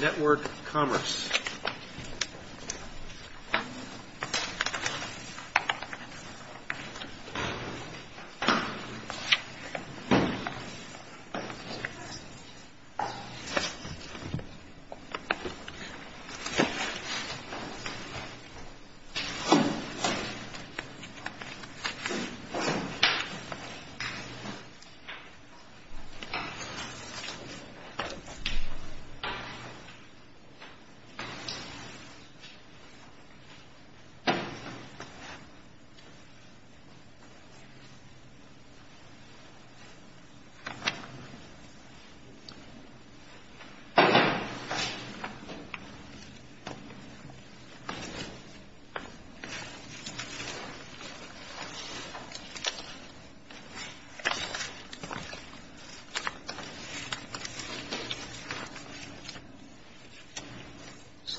Network Commerce.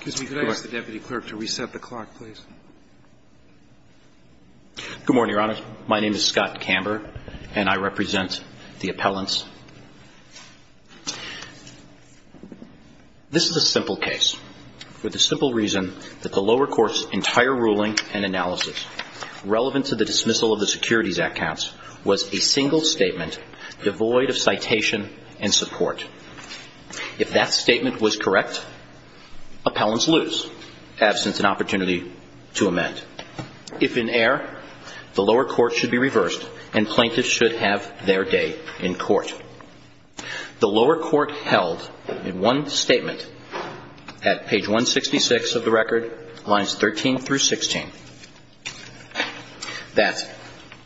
Excuse me, could I ask the Deputy Clerk to reset the clock, please? Good morning, Your Honor. My name is Scott Camber, and I represent the appellants. This is a simple case for the simple reason that the lower court's entire ruling and analysis relevant to the dismissal of the Securities Act counts was a single statement devoid of citation and support. If that statement was correct, appellants lose absence and opportunity to amend. If in error, the lower court should be reversed, and plaintiffs should have their day in court. The lower court held in one statement at page 166 of the record, lines 13 through 16, That's it.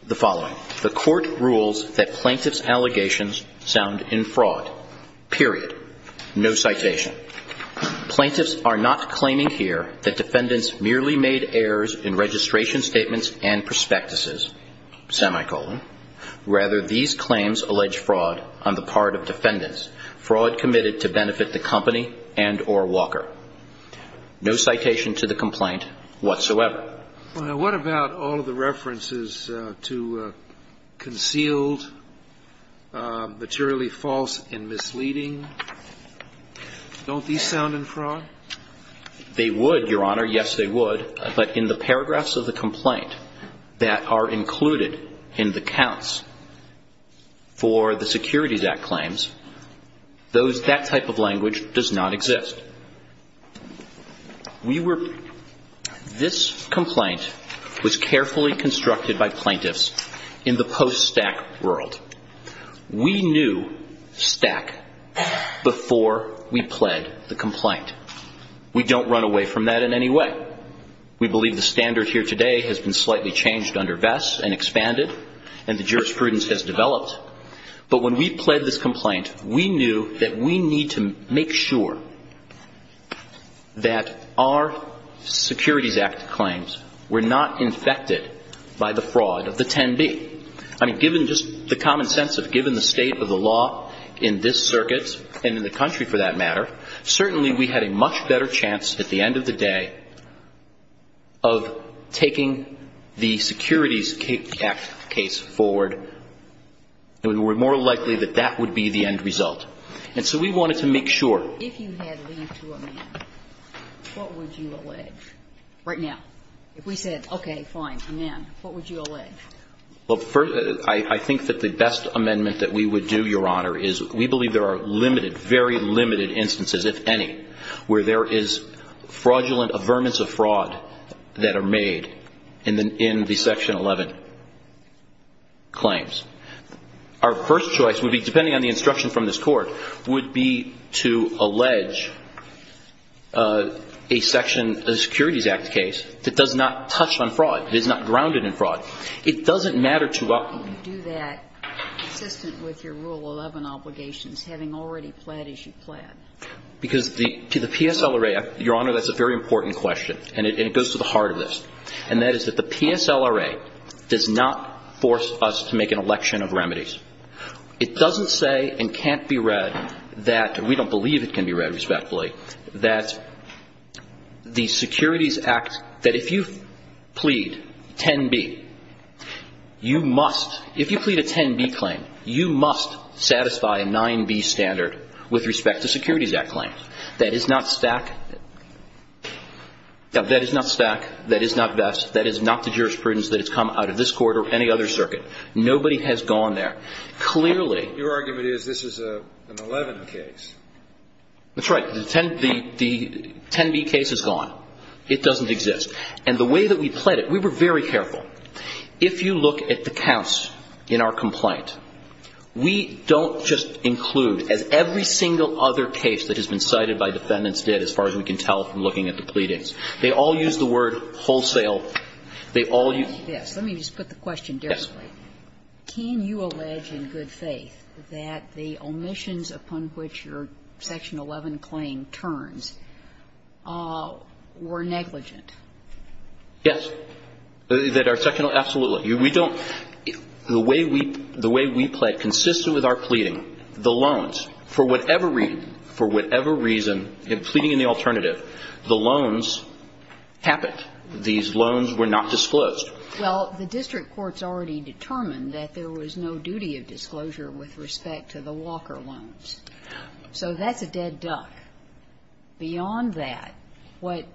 The following. The court rules that plaintiff's allegations sound in fraud. Period. No citation. Plaintiffs are not claiming here that defendants merely made errors in registration statements and prospectuses, semicolon. Rather, these claims allege fraud on the part of defendants, fraud committed to benefit the company and or Walker. No citation to the complaint whatsoever. What about all of the references to concealed, materially false and misleading? Don't these sound in fraud? They would, Your Honor. Yes, they would. But in the paragraphs of the complaint that are included in the counts for the Securities Act claims, those – that type of language does not exist. We were – this complaint was carefully constructed by plaintiffs in the post-Stack world. We knew Stack before we pled the complaint. We don't run away from that in any way. We believe the standard here today has been slightly changed under Vess and expanded, and the jurisprudence has developed. But when we pled this complaint, we knew that we need to make sure that our Securities Act claims were not infected by the fraud of the 10B. I mean, given just the common sense of given the state of the law in this circuit and in the country, for that matter, certainly we had a much better chance at the end of the day of taking the Securities Act case forward. We were more likely that that would be the end result. And so we wanted to make sure. If you had leave to amend, what would you allege right now? If we said, okay, fine, amend, what would you allege? Well, first, I think that the best amendment that we would do, Your Honor, is we believe there are limited, very limited instances, if any, where there is fraudulent averments of fraud that are made in the Section 11 claims. Our first choice would be, depending on the instruction from this Court, would be to allege a Section – a Securities Act case that does not touch on fraud, that is not grounded in fraud. It doesn't matter to us. You do that consistent with your Rule 11 obligations, having already pled as you pled. Because to the PSLRA, Your Honor, that's a very important question, and it goes to the heart of this. And that is that the PSLRA does not force us to make an election of remedies. It doesn't say and can't be read that – we don't believe it can be read respectfully – that the Securities Act, that if you plead 10B, you must – if you plead a 10B claim, you must satisfy a 9B standard with respect to Securities Act claims. That is not stack – that is not stack. That is not vest. That is not the jurisprudence that has come out of this Court or any other circuit. Nobody has gone there. Clearly – Your argument is this is an 11 case. That's right. The 10B case is gone. It doesn't exist. And the way that we pled it, we were very careful. If you look at the counts in our complaint, we don't just include, as every single other case that has been cited by defendants did, as far as we can tell from looking at the pleadings. They all use the word wholesale. They all – Yes. Let me just put the question directly. Yes. Can you allege in good faith that the omissions upon which your Section 11 claim turns were negligent? Yes. That our – absolutely. We don't – the way we pled, consistent with our pleading, the loans, for whatever reason, for whatever reason, in pleading in the alternative, the loans happened. These loans were not disclosed. Well, the district courts already determined that there was no duty of disclosure with respect to the Walker loans. So that's a dead duck. Beyond that, what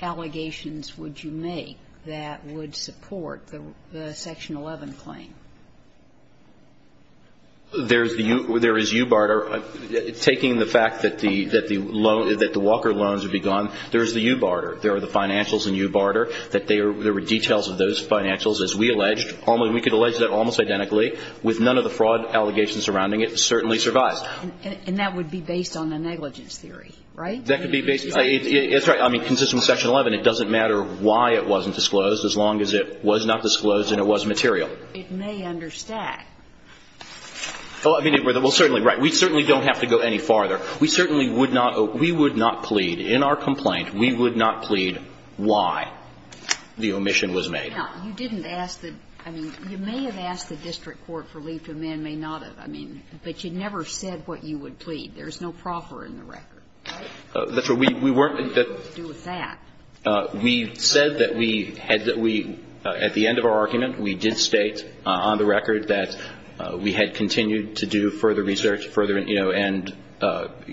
allegations would you make that would support the Section 11 claim? There's the – there is u-barter. Taking the fact that the Walker loans would be gone, there is the u-barter. There are the financials and u-barter, that they are – there were details of those financials, as we alleged. We could allege that almost identically with none of the fraud allegations surrounding it. It certainly survives. And that would be based on the negligence theory, right? That could be based – that's right. I mean, consistent with Section 11, it doesn't matter why it wasn't disclosed as long as it was not disclosed and it was material. It may understack. Well, I mean, certainly, right. We certainly don't have to go any farther. We certainly would not – we would not plead. In our complaint, we would not plead why the omission was made. Now, you didn't ask the – I mean, you may have asked the district court for leave to amend, may not have. I mean, but you never said what you would plead. There's no proffer in the record, right? That's right. We weren't – that – What does that have to do with that? We said that we had – that we – at the end of our argument, we did state on the record that we had continued to do further research, further, you know, and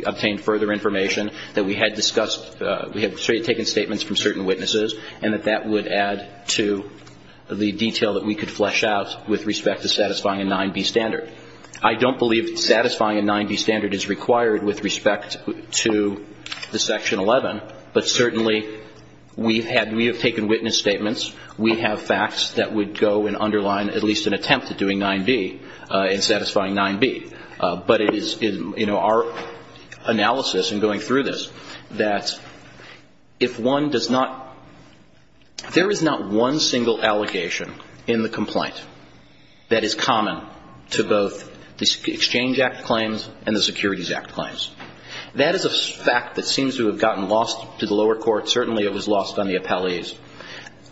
obtained further information, that we had discussed – we had taken statements from certain witnesses, and that that would add to the detail that we could flesh out with respect to satisfying a 9b standard. I don't believe satisfying a 9b standard is required with respect to the Section 11, but certainly we've had – we have taken witness statements. We have facts that would go and underline at least an attempt at doing 9b and satisfying 9b. But it is – you know, our analysis in going through this, that if one does not – there is not one single allegation in the complaint that is common to both the Exchange Act claims and the Securities Act claims. That is a fact that seems to have gotten lost to the lower court. Certainly, it was lost on the appellees.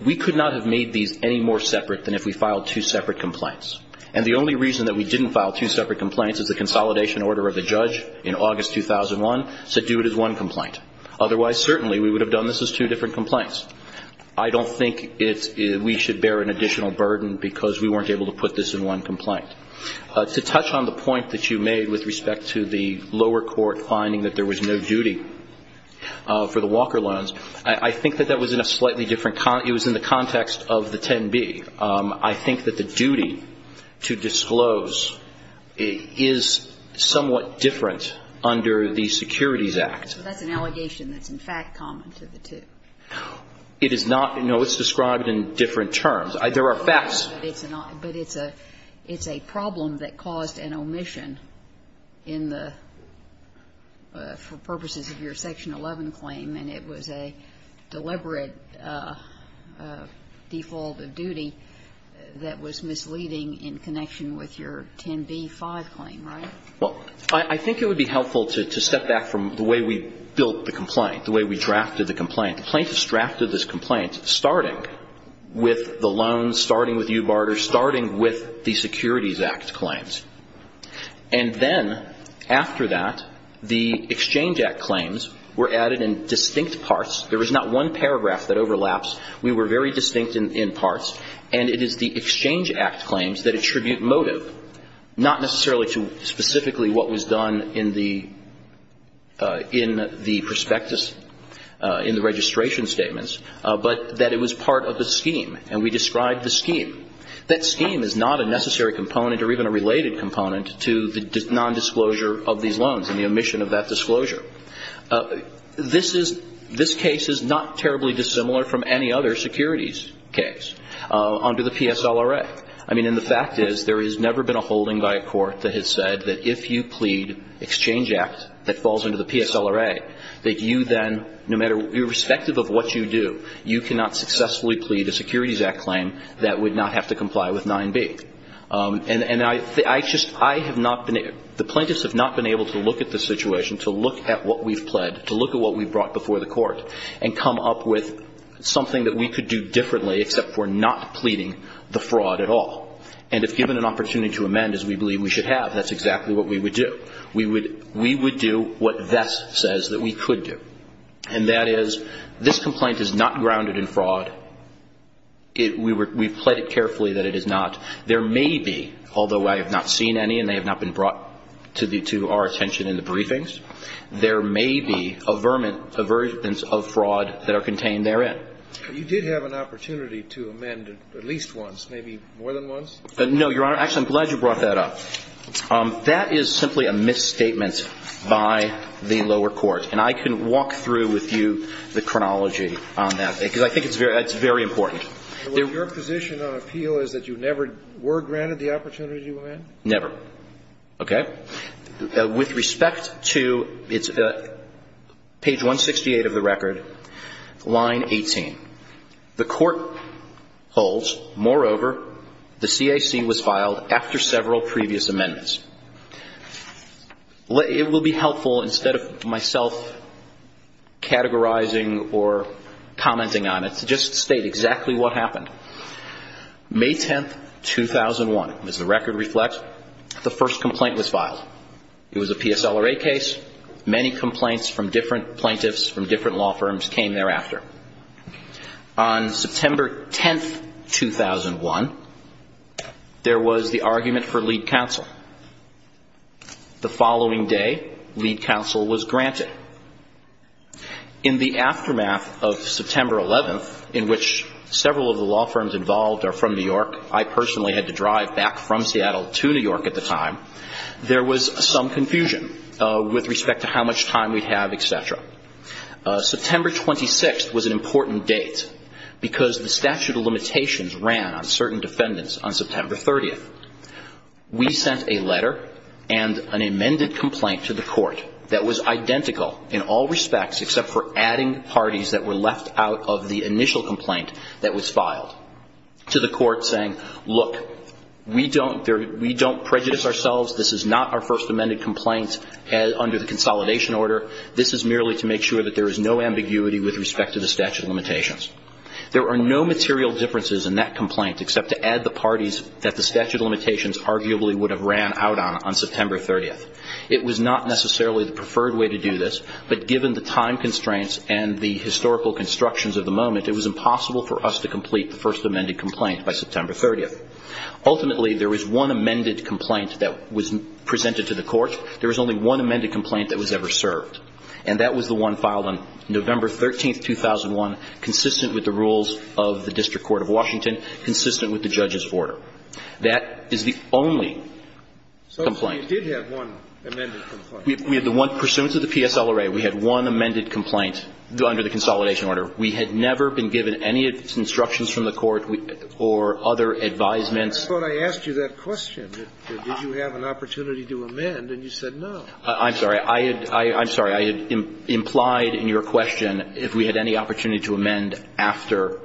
We could not have made these any more separate than if we filed two separate complaints. And the only reason that we didn't file two separate complaints is the consolidation order of the judge in August 2001 said do it as one complaint. Otherwise, certainly, we would have done this as two different complaints. I don't think it's – we should bear an additional burden because we weren't able to put this in one complaint. To touch on the point that you made with respect to the lower court finding that there was no duty for the Walker loans, I think that that was in a slightly different – it was in the context of the 10b. I think that the duty to disclose is somewhat different under the Securities Act. So that's an allegation that's in fact common to the two? It is not. No, it's described in different terms. There are facts. But it's a problem that caused an omission in the – for purposes of your Section 11 claim, and it was a deliberate default of duty that was misleading in connection with your 10b.5 claim, right? Well, I think it would be helpful to step back from the way we built the complaint, the way we drafted the complaint. The plaintiffs drafted this complaint starting with the loans, starting with UBARTER, starting with the Securities Act claims. And then after that, the Exchange Act claims were added in distinct parts. There is not one paragraph that overlaps. We were very distinct in parts. And it is the Exchange Act claims that attribute motive, not necessarily to specifically what was done in the prospectus, in the registration statements, but that it was part of the scheme. And we described the scheme. That scheme is not a necessary component or even a related component to the nondisclosure of these loans and the omission of that disclosure. This is – this case is not terribly dissimilar from any other securities case under the PSLRA. I mean, and the fact is, there has never been a holding by a court that has said that if you plead Exchange Act that falls under the PSLRA, that you then, no matter – irrespective of what you do, you cannot successfully plead a Securities Act claim that would not have to comply with 9b. And I just – I have not been – the plaintiffs have not been able to look at the situation, to look at what we've pled, to look at what we brought before the court and come up with something that we could do differently except for not pleading the fraud at all. And if given an opportunity to amend, as we believe we should have, that's exactly what we would do. We would do what Vest says that we could do. And that is, this complaint is not grounded in fraud. It – we've pled it carefully that it is not. There may be, although I have not seen any and they have not been brought to the – to our attention in the briefings, there may be averments of fraud that are contained therein. You did have an opportunity to amend at least once, maybe more than once? No, Your Honor. Actually, I'm glad you brought that up. That is simply a misstatement by the lower court. And I can walk through with you the chronology on that, because I think it's very important. Your position on appeal is that you never were granted the opportunity to amend? Never. Okay? With respect to – it's page 168 of the record, line 18. The court holds, moreover, the CAC was filed after several previous amendments. It will be helpful, instead of myself categorizing or commenting on it, to just state exactly what happened. May 10, 2001, as the record reflects, the first complaint was filed. It was a PSLRA case. Many complaints from different plaintiffs, from different law firms came thereafter. On September 10, 2001, there was the argument for lead counsel. The following day, lead counsel was granted. In the aftermath of September 11th, in which several of the law firms involved are from New York – I personally had to drive back from Seattle to New York at the time – there was some confusion with respect to how much time we'd have, et cetera. September 26th was an important date, because the statute of limitations ran on certain defendants on September 30th. We sent a letter and an amended complaint to the court that was identical in all respects, except for adding parties that were left out of the initial complaint that was filed, to the court saying, look, we don't prejudice ourselves. This is not our first amended complaint under the consolidation order. This is merely to make sure that there is no ambiguity with respect to the statute of limitations. There are no material differences in that complaint, except to add the parties that the statute of limitations arguably would have ran out on on September 30th. It was not necessarily the preferred way to do this, but given the time constraints and the historical constructions of the moment, it was impossible for us to complete the first amended complaint by September 30th. Ultimately, there was one amended complaint that was presented to the court. There was only one amended complaint that was ever served. And that was the one filed on November 13th, 2001, consistent with the rules of the district court of Washington, consistent with the judge's order. That is the only complaint. Scalia did have one amended complaint. We had the one pursuant to the PSLRA. We had one amended complaint under the consolidation order. We had never been given any instructions from the court or other advisements. I thought I asked you that question, that did you have an opportunity to amend, and you said no. I'm sorry. I'm sorry. I implied in your question if we had any opportunity to amend after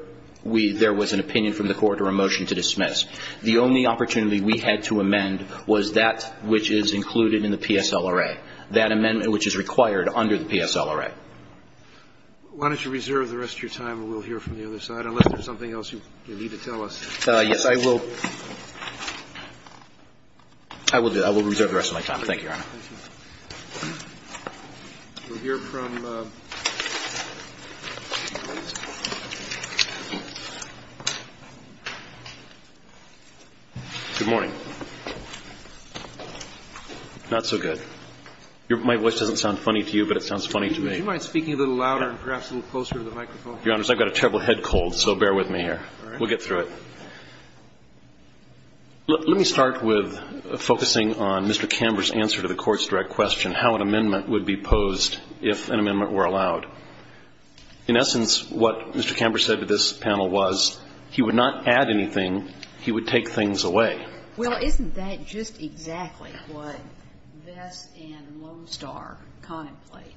we – there was an opinion from the court or a motion to dismiss. The only opportunity we had to amend was that which is included in the PSLRA, that amendment which is required under the PSLRA. Why don't you reserve the rest of your time, and we'll hear from the other side. Unless there's something else you need to tell us. Yes, I will. I will reserve the rest of my time. Thank you, Your Honor. Thank you. We'll hear from – Good morning. Not so good. My voice doesn't sound funny to you, but it sounds funny to me. Would you mind speaking a little louder and perhaps a little closer to the microphone? Your Honor, I've got a terrible head cold, so bear with me here. All right. We'll get through it. Let me start with focusing on Mr. Camber's answer to the court's direct question, how an amendment would be posed if an amendment were allowed. In essence, what Mr. Camber said to this panel was he would not add anything, he would take things away. Well, isn't that just exactly what Vess and Lone Star contemplate?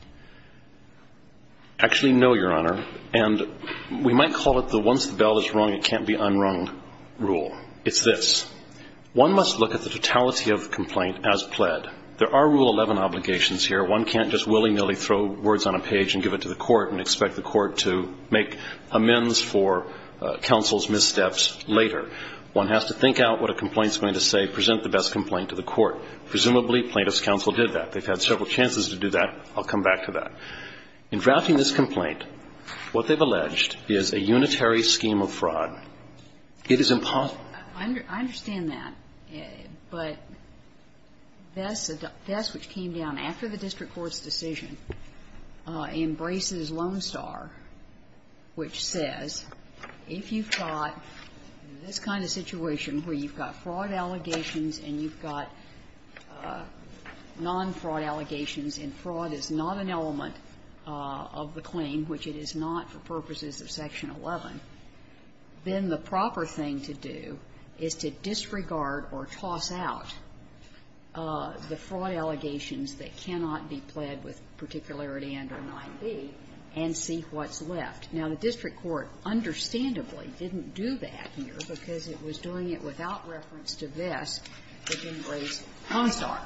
Actually, no, Your Honor. We might call it the once the bell is rung, it can't be unrung rule. It's this. One must look at the totality of the complaint as pled. There are Rule 11 obligations here. One can't just willy-nilly throw words on a page and give it to the court and expect the court to make amends for counsel's missteps later. One has to think out what a complaint is going to say, present the best complaint to the court. Presumably plaintiff's counsel did that. They've had several chances to do that. I'll come back to that. In drafting this complaint, what they've alleged is a unitary scheme of fraud. It is impossible. I understand that. But Vess, which came down after the district court's decision, embraces Lone Star, which says if you've got this kind of situation where you've got fraud allegations and you've got non-fraud allegations and fraud is not an element of the claim, which it is not for purposes of Section 11, then the proper thing to do is to disregard or toss out the fraud allegations that cannot be pled with particularity under 9b and see what's left. Now, the district court understandably didn't do that here because it was doing it without reference to Vess, but didn't raise Lone Star.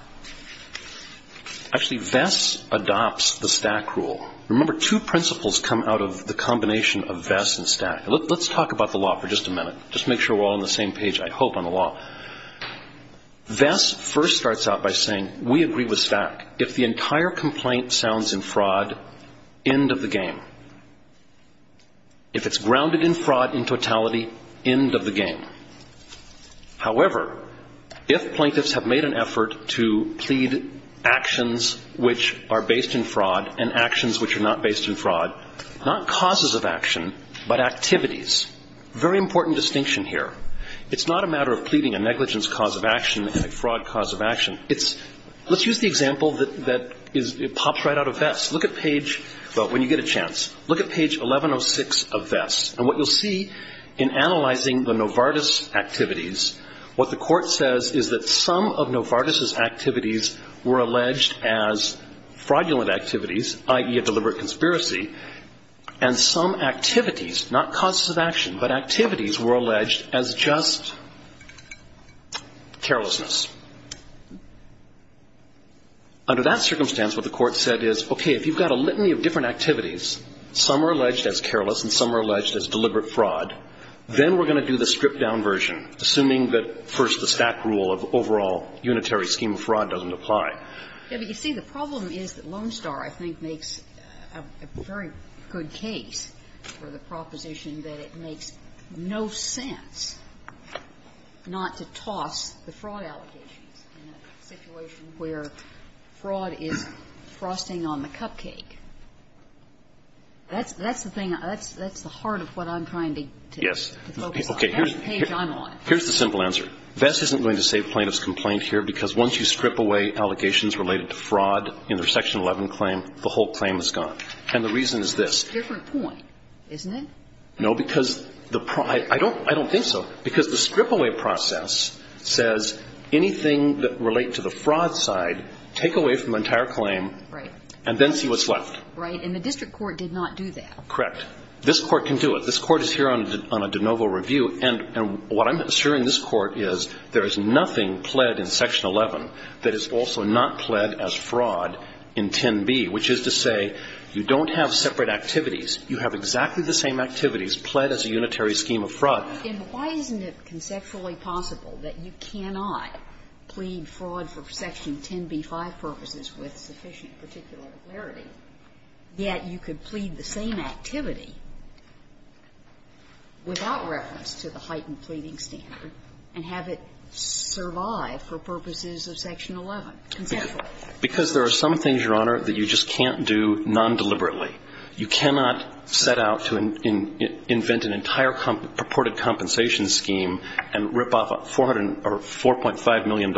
Actually, Vess adopts the Stack rule. Remember, two principles come out of the combination of Vess and Stack. Let's talk about the law for just a minute, just to make sure we're all on the same page, I hope, on the law. Vess first starts out by saying we agree with Stack. If the entire complaint sounds in fraud, end of the game. If it's grounded in fraud in totality, end of the game. However, if plaintiffs have made an effort to plead actions which are based in fraud and actions which are not based in fraud, not causes of action, but activities, very important distinction here, it's not a matter of pleading a negligence cause of action and a fraud cause of action. Let's use the example that pops right out of Vess. Look at page, when you get a chance, look at page 1106 of Vess. And what you'll see in analyzing the Novartis activities, what the court says is that some of Novartis' activities were alleged as fraudulent activities, i.e., a deliberate conspiracy, and some activities, not causes of action, but activities were alleged as just carelessness. Under that circumstance, what the court said is, okay, if you've got a litany of different Then we're going to do the stripped-down version, assuming that, first, the stack rule of overall unitary scheme of fraud doesn't apply. Yeah, but you see, the problem is that Lone Star, I think, makes a very good case for the proposition that it makes no sense not to toss the fraud allegations in a situation where fraud is frosting on the cupcake. That's the thing. That's the heart of what I'm trying to focus on. Yes. That's the page I'm on. Here's the simple answer. Vess isn't going to save plaintiff's complaint here because once you strip away allegations related to fraud in their section 11 claim, the whole claim is gone. And the reason is this. It's a different point, isn't it? No, because the pro – I don't think so. Because the strip-away process says anything that relate to the fraud side, take away from the entire claim and then see what's left. Right? And the district court did not do that. Correct. This Court can do it. This Court is here on a de novo review. And what I'm assuring this Court is there is nothing pled in section 11 that is also not pled as fraud in 10b, which is to say you don't have separate activities. You have exactly the same activities pled as a unitary scheme of fraud. Then why isn't it conceptually possible that you cannot plead fraud for section 10b-5 purposes with sufficient particular clarity, yet you could plead the same activity without reference to the heightened pleading standard and have it survive for purposes of section 11 conceptually? Because there are some things, Your Honor, that you just can't do non-deliberately. You cannot set out to invent an entire purported compensation scheme and rip off $400 million or $4.5 million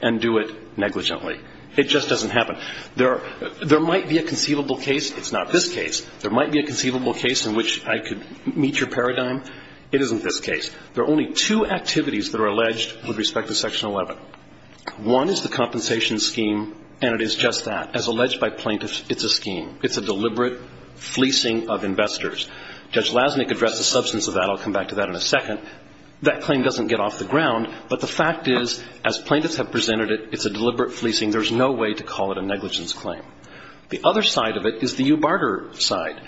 and do it negligently. It just doesn't happen. There might be a conceivable case. It's not this case. There might be a conceivable case in which I could meet your paradigm. It isn't this case. There are only two activities that are alleged with respect to section 11. One is the compensation scheme, and it is just that. As alleged by plaintiffs, it's a scheme. It's a deliberate fleecing of investors. Judge Lasnik addressed the substance of that. I'll come back to that in a second. That claim doesn't get off the ground, but the fact is, as plaintiffs have presented it, it's a deliberate fleecing. There's no way to call it a negligence claim. The other side of it is the Ubarter side.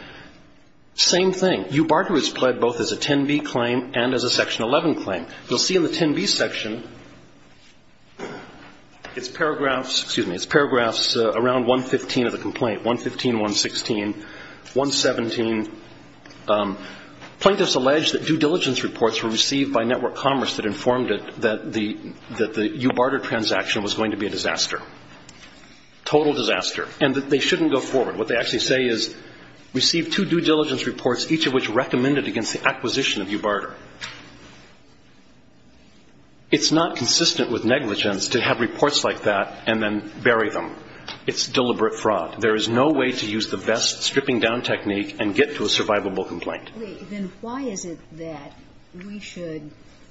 Same thing. Ubarter is pled both as a 10b claim and as a section 11 claim. You'll see in the 10b section, it's paragraphs, excuse me, it's paragraphs around 115 of the complaint, 115, 116, 117. Plaintiffs allege that due diligence reports were received by Network Commerce that informed it that the Ubarter transaction was going to be a disaster, total disaster, and that they shouldn't go forward. What they actually say is receive two due diligence reports, each of which recommended against the acquisition of Ubarter. It's not consistent with negligence to have reports like that and then bury them. It's deliberate fraud. There is no way to use the VESS stripping-down technique and get to a survivable Sotomayor, then why is it that we should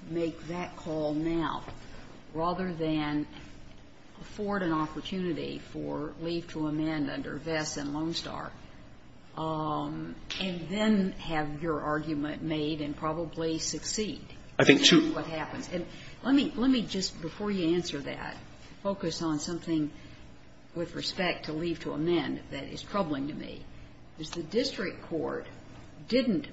make that call now rather than afford an opportunity for leave to amend under VESS and Lone Star and then have your argument made and probably succeed? I think two. And let me just, before you answer that, focus on something with respect to leave to amend that is troubling to me, is the district court didn't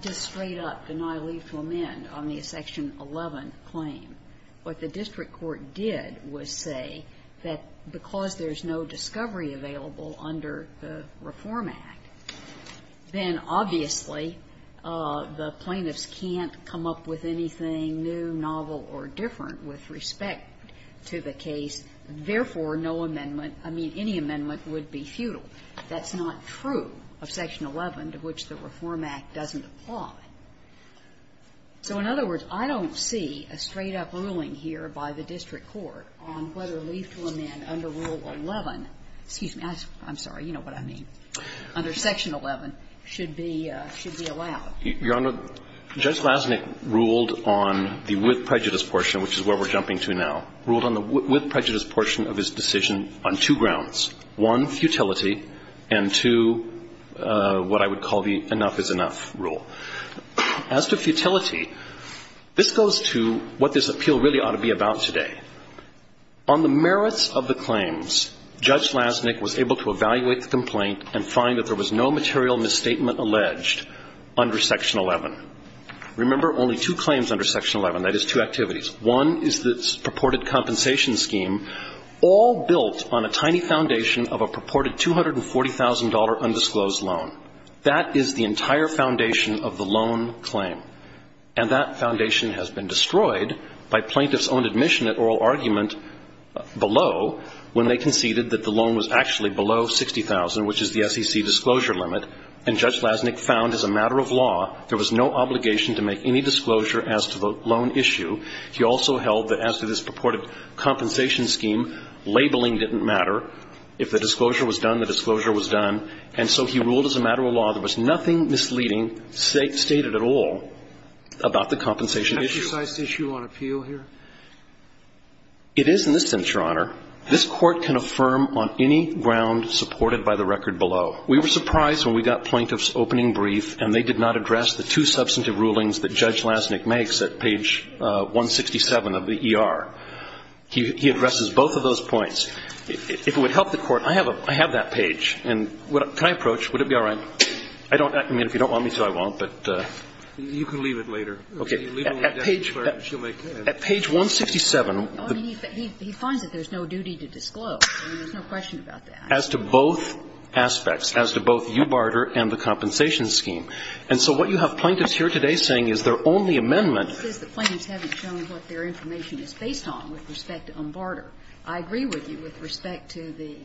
just straight up deny leave to amend on the Section 11 claim. What the district court did was say that because there's no discovery available under the Reform Act, then obviously the plaintiffs can't come up with anything new, novel, or different with respect to the case. Therefore, no amendment, I mean, any amendment would be futile. That's not true of Section 11, to which the Reform Act doesn't apply. So in other words, I don't see a straight-up ruling here by the district court on whether leave to amend under Rule 11, excuse me, I'm sorry, you know what I mean, under Section 11 should be allowed. Your Honor, Judge Lasnik ruled on the with prejudice portion, which is where we're at today. He ruled on the with prejudice portion of his decision on two grounds, one, futility, and two, what I would call the enough is enough rule. As to futility, this goes to what this appeal really ought to be about today. On the merits of the claims, Judge Lasnik was able to evaluate the complaint and find that there was no material misstatement alleged under Section 11. Remember, only two claims under Section 11, that is two activities. One is the purported compensation scheme, all built on a tiny foundation of a purported $240,000 undisclosed loan. That is the entire foundation of the loan claim. And that foundation has been destroyed by plaintiffs' own admission at oral argument below when they conceded that the loan was actually below 60,000, which is the SEC disclosure limit, and Judge Lasnik found as a matter of law there was no obligation to make any disclosure as to the loan issue. He also held that as to this purported compensation scheme, labeling didn't matter. If the disclosure was done, the disclosure was done. And so he ruled as a matter of law there was nothing misleading stated at all about the compensation issue. Exercised issue on appeal here? It is in this instance, Your Honor. This Court can affirm on any ground supported by the record below. We were surprised when we got plaintiffs' opening brief and they did not address the two substantive rulings that Judge Lasnik makes at page 167 of the ER. He addresses both of those points. If it would help the Court, I have a – I have that page. And can I approach? Would it be all right? I don't – I mean, if you don't want me to, I won't, but. You can leave it later. Okay. At page 167. He finds that there's no duty to disclose. There's no question about that. As to both aspects, as to both you, Barter, and the compensation scheme. And so what you have plaintiffs here today saying is their only amendment. He says the plaintiffs haven't shown what their information is based on with respect to Barter. I agree with you with respect to the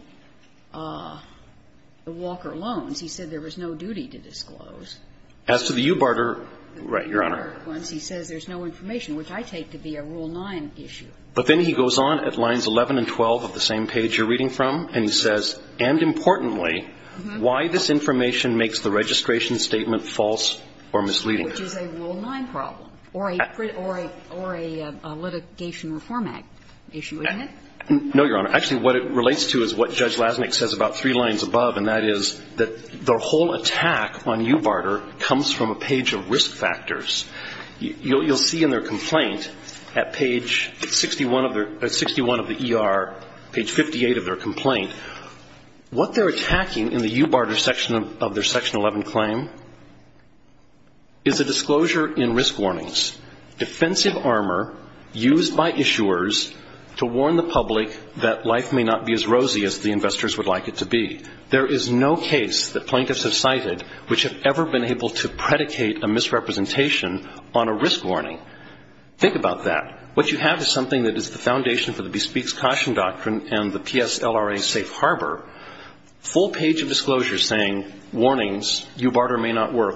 Walker loans. He said there was no duty to disclose. As to the Eubarter, Your Honor. The Eubarter ones. He says there's no information, which I take to be a Rule 9 issue. But then he goes on at lines 11 and 12 of the same page you're reading from, and he Which is a Rule 9 problem. Or a litigation reform act issue, isn't it? No, Your Honor. Actually, what it relates to is what Judge Lasnik says about three lines above, and that is that the whole attack on Eubarter comes from a page of risk factors. You'll see in their complaint at page 61 of the ER, page 58 of their complaint, what they're attacking in the Eubarter section of their section 11 claim is a disclosure in risk warnings. Defensive armor used by issuers to warn the public that life may not be as rosy as the investors would like it to be. There is no case that plaintiffs have cited which have ever been able to predicate a misrepresentation on a risk warning. Think about that. What you have is something that is the foundation for the Bespeaks Caution Doctrine and the PSLRA Safe Harbor, full page of disclosures saying warnings, Eubarter may not work,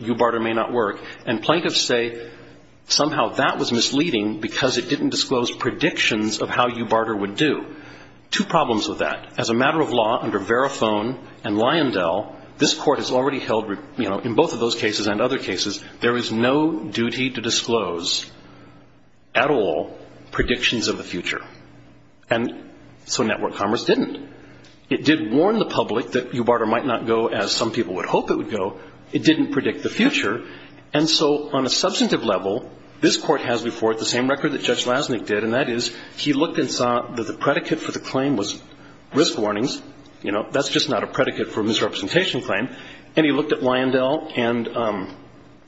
Eubarter may not work, and plaintiffs say somehow that was misleading because it didn't disclose predictions of how Eubarter would do. Two problems with that. As a matter of law, under Verifone and Lyondell, this Court has already held, you know, in both of those cases and other cases, there is no duty to disclose at all predictions of the future. And so Network Commerce didn't. It did warn the public that Eubarter might not go as some people would hope it would go. It didn't predict the future. And so on a substantive level, this Court has before it the same record that Judge Lasnik did, and that is he looked and saw that the predicate for the claim was risk warnings. You know, that's just not a predicate for a misrepresentation claim. And he looked at Lyondell and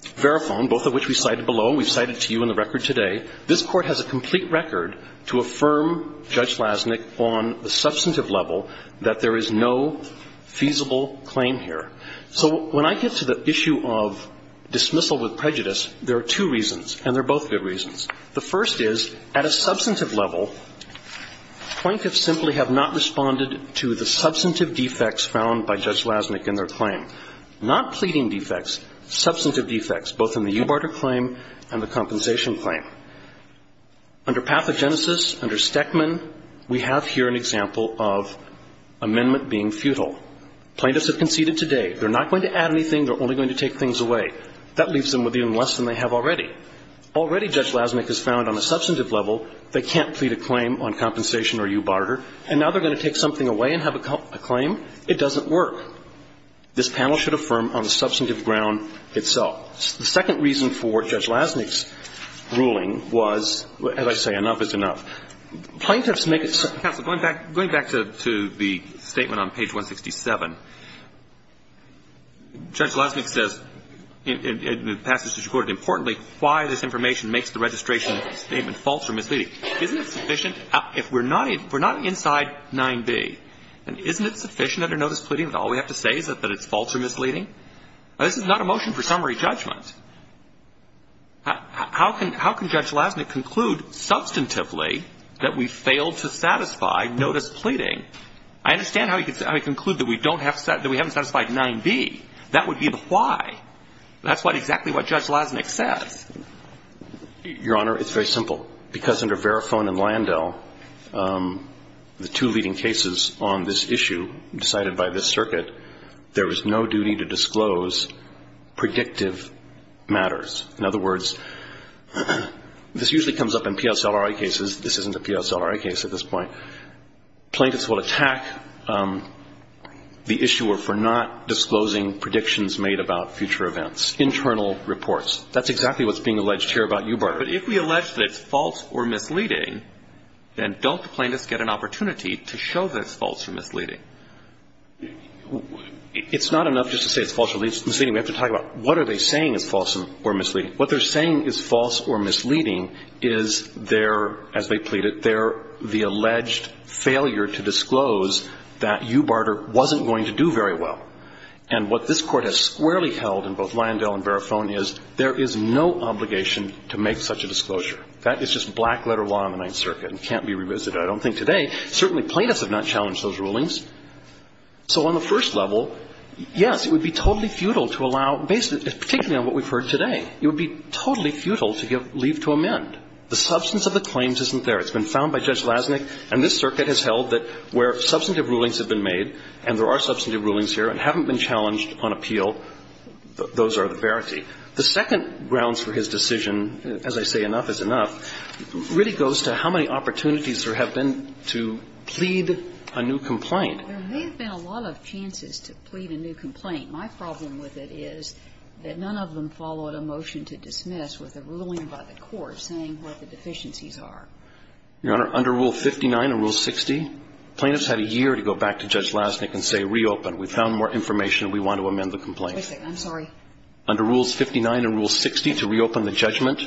Verifone, both of which we cited below and we've cited to you in the record today. This Court has a complete record to affirm Judge Lasnik on the substantive level that there is no feasible claim here. So when I get to the issue of dismissal with prejudice, there are two reasons, and they're both good reasons. The first is, at a substantive level, plaintiffs simply have not responded to the substantive defects found by Judge Lasnik in their claim. Not pleading defects, substantive defects, both in the Eubarter claim and the compensation claim. Under pathogenesis, under Stekman, we have here an example of amendment being futile. Plaintiffs have conceded today. They're not going to add anything. They're only going to take things away. That leaves them with even less than they have already. Already Judge Lasnik has found on a substantive level they can't plead a claim on compensation or Eubarter, and now they're going to take something away and have a claim? It doesn't work. This panel should affirm on the substantive ground itself. The second reason for Judge Lasnik's ruling was, as I say, enough is enough. Plaintiffs make it so. Roberts. Counsel, going back to the statement on page 167, Judge Lasnik says, and the passage is recorded, importantly, why this information makes the registration statement false or misleading. Isn't it sufficient? If we're not inside 9b, then isn't it sufficient under notice of pleading that all we have to say is that it's false or misleading? This is not a motion for summary judgment. How can Judge Lasnik conclude substantively that we failed to satisfy notice of pleading? I understand how he could conclude that we haven't satisfied 9b. That would be the why. That's exactly what Judge Lasnik says. Your Honor, it's very simple. Because under Verifone and Landau, the two leading cases on this issue decided by this plaintiff to not disclose predictive matters. In other words, this usually comes up in PSLRI cases. This isn't a PSLRI case at this point. Plaintiffs will attack the issuer for not disclosing predictions made about future events, internal reports. That's exactly what's being alleged here about Eubar. But if we allege that it's false or misleading, then don't the plaintiffs get an opportunity to show that it's false or misleading? It's not enough just to say it's false or misleading. We have to talk about what are they saying is false or misleading. What they're saying is false or misleading is their, as they plead it, their the alleged failure to disclose that Eubarter wasn't going to do very well. And what this Court has squarely held in both Landau and Verifone is there is no obligation to make such a disclosure. That is just black-letter law in the Ninth Circuit and can't be revisited. I don't think today. Certainly plaintiffs have not challenged those rulings. So on the first level, yes, it would be totally futile to allow, particularly on what we've heard today, it would be totally futile to give leave to amend. The substance of the claims isn't there. It's been found by Judge Lasnik. And this Circuit has held that where substantive rulings have been made, and there are substantive rulings here and haven't been challenged on appeal, those are the verity. The second grounds for his decision, as I say, enough is enough, really goes to how many opportunities there have been to plead a new complaint. There may have been a lot of chances to plead a new complaint. My problem with it is that none of them followed a motion to dismiss with a ruling by the court saying what the deficiencies are. Your Honor, under Rule 59 and Rule 60, plaintiffs had a year to go back to Judge Lasnik and say, reopen. We found more information and we want to amend the complaint. I'm sorry. Under Rules 59 and Rule 60, to reopen the judgment,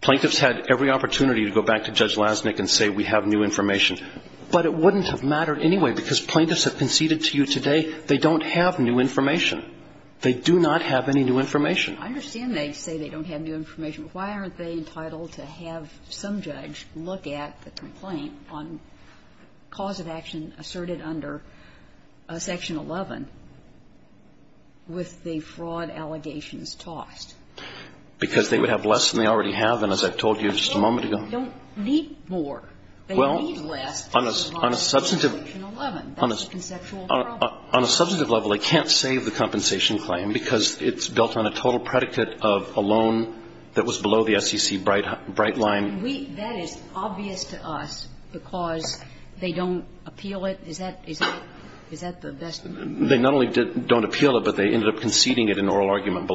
plaintiffs had every opportunity to go back to Judge Lasnik and say, we have new information. But it wouldn't have mattered anyway because plaintiffs have conceded to you today they don't have new information. They do not have any new information. I understand they say they don't have new information. Why aren't they entitled to have some judge look at the complaint on cause of action asserted under Section 11 with the fraud allegations tossed? Because they would have less than they already have. And as I told you just a moment ago. They don't need more. They need less. Well, on a substantive. On Section 11. That's a conceptual problem. On a substantive level, they can't save the compensation claim because it's built on a total predicate of a loan that was below the SEC bright line. That is obvious to us because they don't appeal it. Is that the best? They not only don't appeal it, but they ended up conceding it in oral argument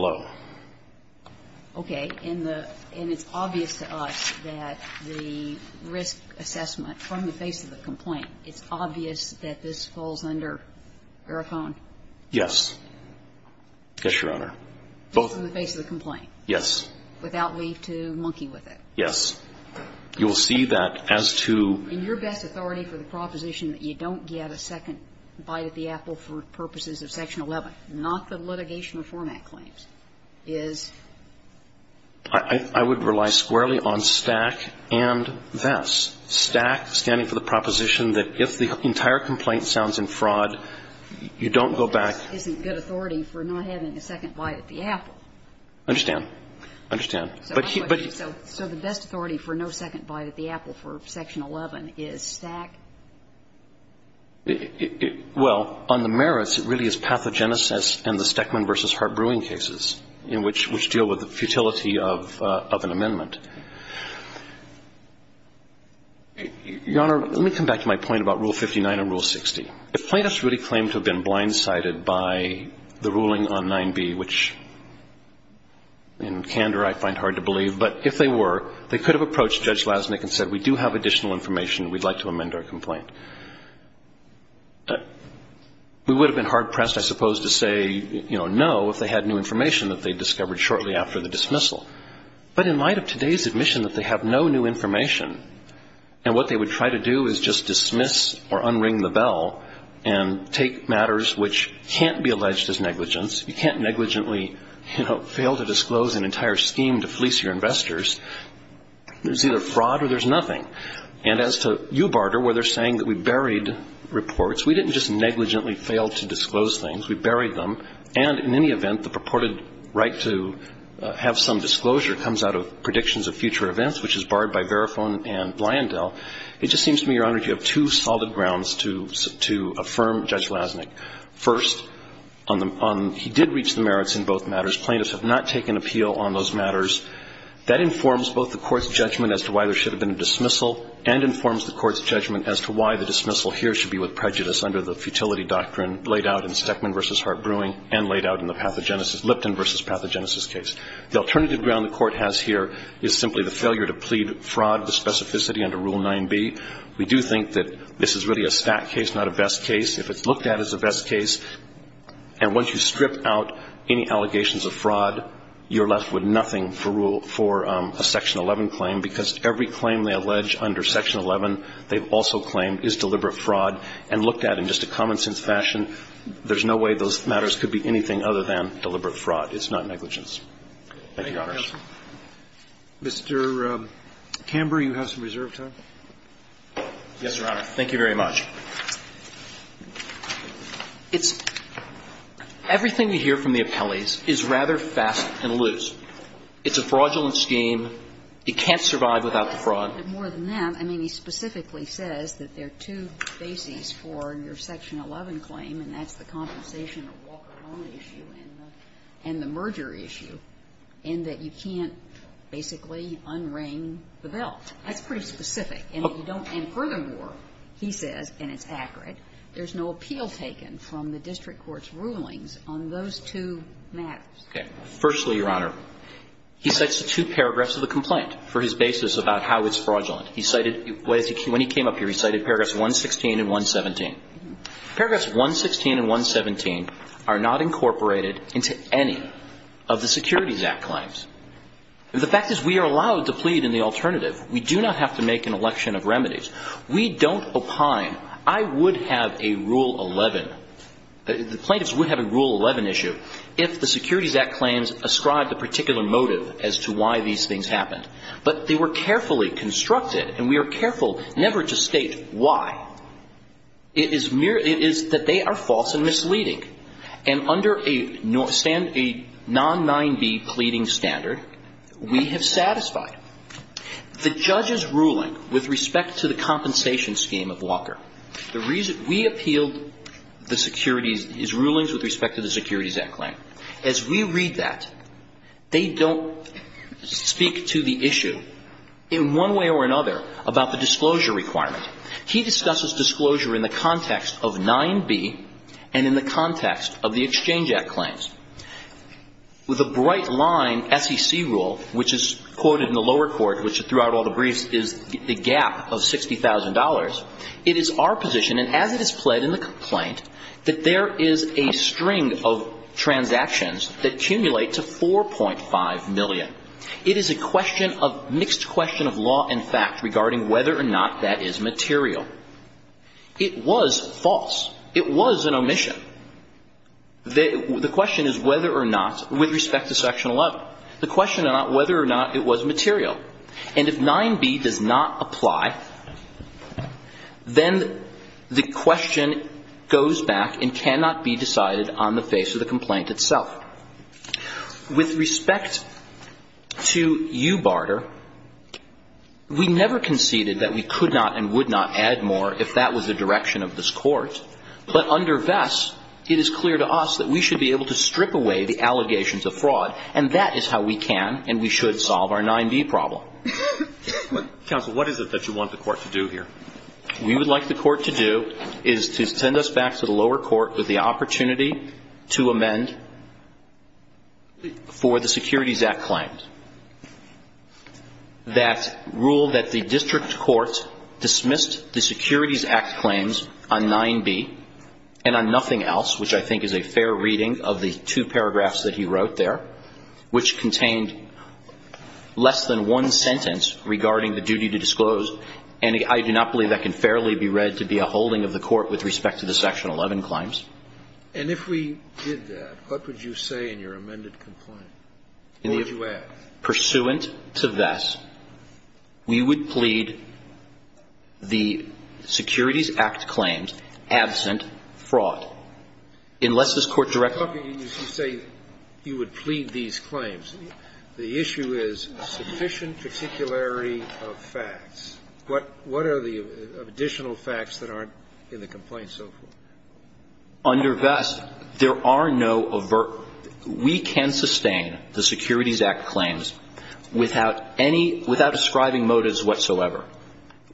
Okay. And the and it's obvious to us that the risk assessment from the face of the complaint, it's obvious that this falls under ERACON? Yes. Yes, Your Honor. Just in the face of the complaint? Yes. Without leave to monkey with it? Yes. You will see that as to. In your best authority for the proposition that you don't get a second bite at the is? I would rely squarely on STAC and VESS. STAC standing for the proposition that if the entire complaint sounds in fraud, you don't go back. VESS isn't good authority for not having a second bite at the apple. I understand. I understand. So the best authority for no second bite at the apple for Section 11 is STAC? Well, on the merits, it really is pathogenesis and the Steckman v. Hart-Brewing cases, which deal with the futility of an amendment. Your Honor, let me come back to my point about Rule 59 and Rule 60. If plaintiffs really claimed to have been blindsided by the ruling on 9B, which in candor I find hard to believe, but if they were, they could have approached Judge Lasnik and said, We do have additional information. We'd like to amend our complaint. We would have been hard-pressed, I suppose, to say no if they had new information that they discovered shortly after the dismissal. But in light of today's admission that they have no new information and what they would try to do is just dismiss or unring the bell and take matters which can't be alleged as negligence. You can't negligently fail to disclose an entire scheme to fleece your investors. There's either fraud or there's nothing. And as to you, Barter, where they're saying that we buried reports, we didn't just negligently fail to disclose things. We buried them. And in any event, the purported right to have some disclosure comes out of predictions of future events, which is barred by Verifone and Blyandell. It just seems to me, Your Honor, you have two solid grounds to affirm Judge Lasnik. First, he did reach the merits in both matters. Plaintiffs have not taken appeal on those matters. That informs both the Court's judgment as to why there should have been a dismissal and informs the Court's judgment as to why the dismissal here should be with prejudice under the futility doctrine laid out in Steckman v. Hart-Brewing and laid out in the Lipton v. Pathogenesis case. The alternative ground the Court has here is simply the failure to plead fraud with specificity under Rule 9b. We do think that this is really a stat case, not a vest case. If it's looked at as a vest case and once you strip out any allegations of fraud, you're left with nothing for a Section 11 claim, because every claim they allege under Section 11 they've also claimed is deliberate fraud. And looked at in just a common-sense fashion, there's no way those matters could be anything other than deliberate fraud. It's not negligence. Thank you, Your Honor. Mr. Camber, you have some reserve time. Yes, Your Honor. Thank you very much. It's – everything you hear from the appellees is rather fast and loose. It's a fraudulent scheme. You can't survive without the fraud. But more than that, I mean, he specifically says that there are two bases for your Section 11 claim, and that's the compensation or walk-upon issue and the merger issue, in that you can't basically un-ring the bell. That's pretty specific. And you don't – and furthermore, he says, and it's accurate, there's no appeal taken from the district court's rulings on those two matters. Okay. Firstly, Your Honor, he cites the two paragraphs of the complaint for his basis about how it's fraudulent. He cited – when he came up here, he cited paragraphs 116 and 117. Paragraphs 116 and 117 are not incorporated into any of the Securities Act claims. The fact is we are allowed to plead in the alternative. We do not have to make an election of remedies. We don't opine. I would have a Rule 11 – the plaintiffs would have a Rule 11 issue if the Securities Act claims ascribed a particular motive as to why these things happened. But they were carefully constructed, and we are careful never to state why. It is mere – it is that they are false and misleading. And under a non-9b pleading standard, we have satisfied. The judge's ruling with respect to the compensation scheme of Walker, the reason we appealed the securities – his rulings with respect to the Securities Act claim, as we read that, they don't speak to the issue in one way or another about the disclosure requirement. He discusses disclosure in the context of 9b and in the context of the Exchange of Securities Act claim. And the judge's ruling, as we read that, they don't speak to the issue in one way or another about the disclosure requirement. And under a non-9b pleading standard, we have satisfied. The judge's ruling with respect to the compensation scheme of Walker, the reason in one way or another about the disclosure requirement. And if 9b does not apply, then the question goes back and cannot be decided on the face of the complaint itself. With respect to you, Barter, we never conceded that we could not and would not add more if that was the direction of this Court. But under Vess, it is clear to us that we should be able to strip away the allegations of fraud, and that is how we can and we should solve our 9b problem. Counsel, what is it that you want the Court to do here? We would like the Court to do is to send us back to the lower court with the opportunity to amend for the Securities Act claims. That rule that the district court dismissed the Securities Act claims on 9b and on And if we did that, what would you say in your amended complaint? What would you ask? Pursuant to Vess, we would plead the Securities Act claims absent fraud, unless this Court directs us to do that. We would plead these claims. The issue is sufficient particularity of facts. What are the additional facts that aren't in the complaint so far? Under Vess, there are no avert we can sustain the Securities Act claims without any without ascribing motives whatsoever.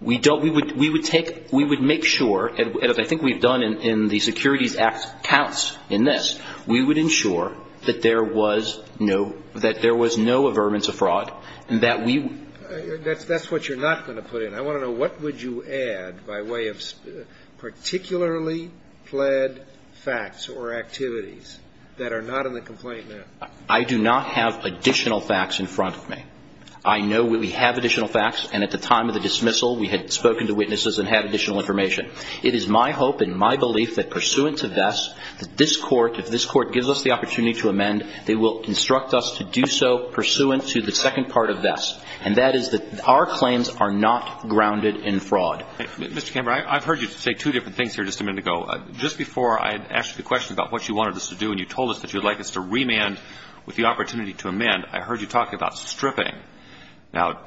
We don't we would we would take we would make sure and I think we've done in the Securities Act counts in this. We would ensure that there was no that there was no avertance of fraud and that we That's that's what you're not going to put in. I want to know what would you add by way of particularly plead facts or activities that are not in the complaint now? I do not have additional facts in front of me. I know we have additional facts and at the time of the dismissal we had spoken to witnesses and had additional information. It is my hope and my belief that pursuant to Vess, that this Court, if this Court gives us the opportunity to amend, they will instruct us to do so pursuant to the second part of Vess. And that is that our claims are not grounded in fraud. Mr. Camber, I've heard you say two different things here just a minute ago. Just before I had asked you the question about what you wanted us to do and you told us that you'd like us to remand with the opportunity to amend, I heard you talk about stripping. Now,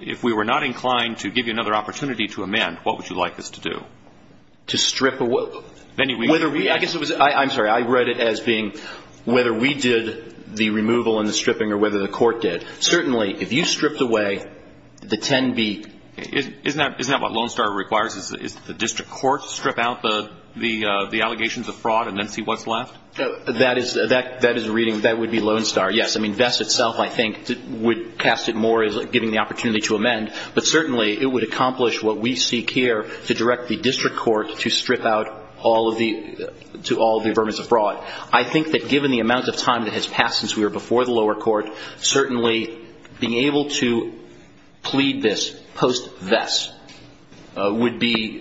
if we were not inclined to give you another opportunity to amend, what would you like us to do? To strip? I guess it was – I'm sorry. I read it as being whether we did the removal and the stripping or whether the Court did. Certainly, if you stripped away the 10B. Isn't that what Lone Star requires? Is the district court strip out the allegations of fraud and then see what's left? That is a reading that would be Lone Star. Yes. I mean, Vess itself, I think, would cast it more as giving the opportunity to amend. But certainly, it would accomplish what we seek here to direct the district court to strip out all of the – to all of the affirmations of fraud. I think that given the amount of time that has passed since we were before the lower court, certainly being able to plead this post-Vess would be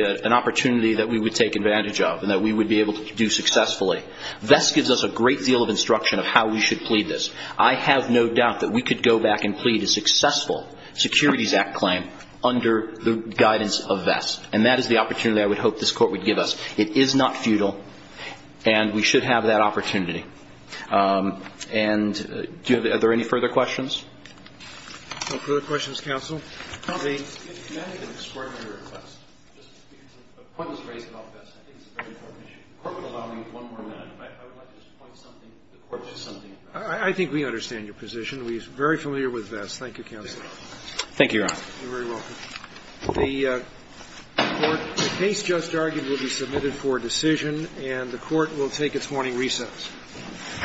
an opportunity that we would take advantage of and that we would be able to do successfully. Vess gives us a great deal of instruction of how we should plead this. I have no doubt that we could go back and plead a successful Securities Act claim under the guidance of Vess. And that is the opportunity I would hope this Court would give us. It is not futile, and we should have that opportunity. And are there any further questions? No further questions, counsel. I think we understand your position. We are very familiar with Vess. Thank you, counsel. Thank you, Your Honor. You're very welcome. The case just argued will be submitted for decision, and the Court will take its morning recess. All rise. This Court now stands in recess.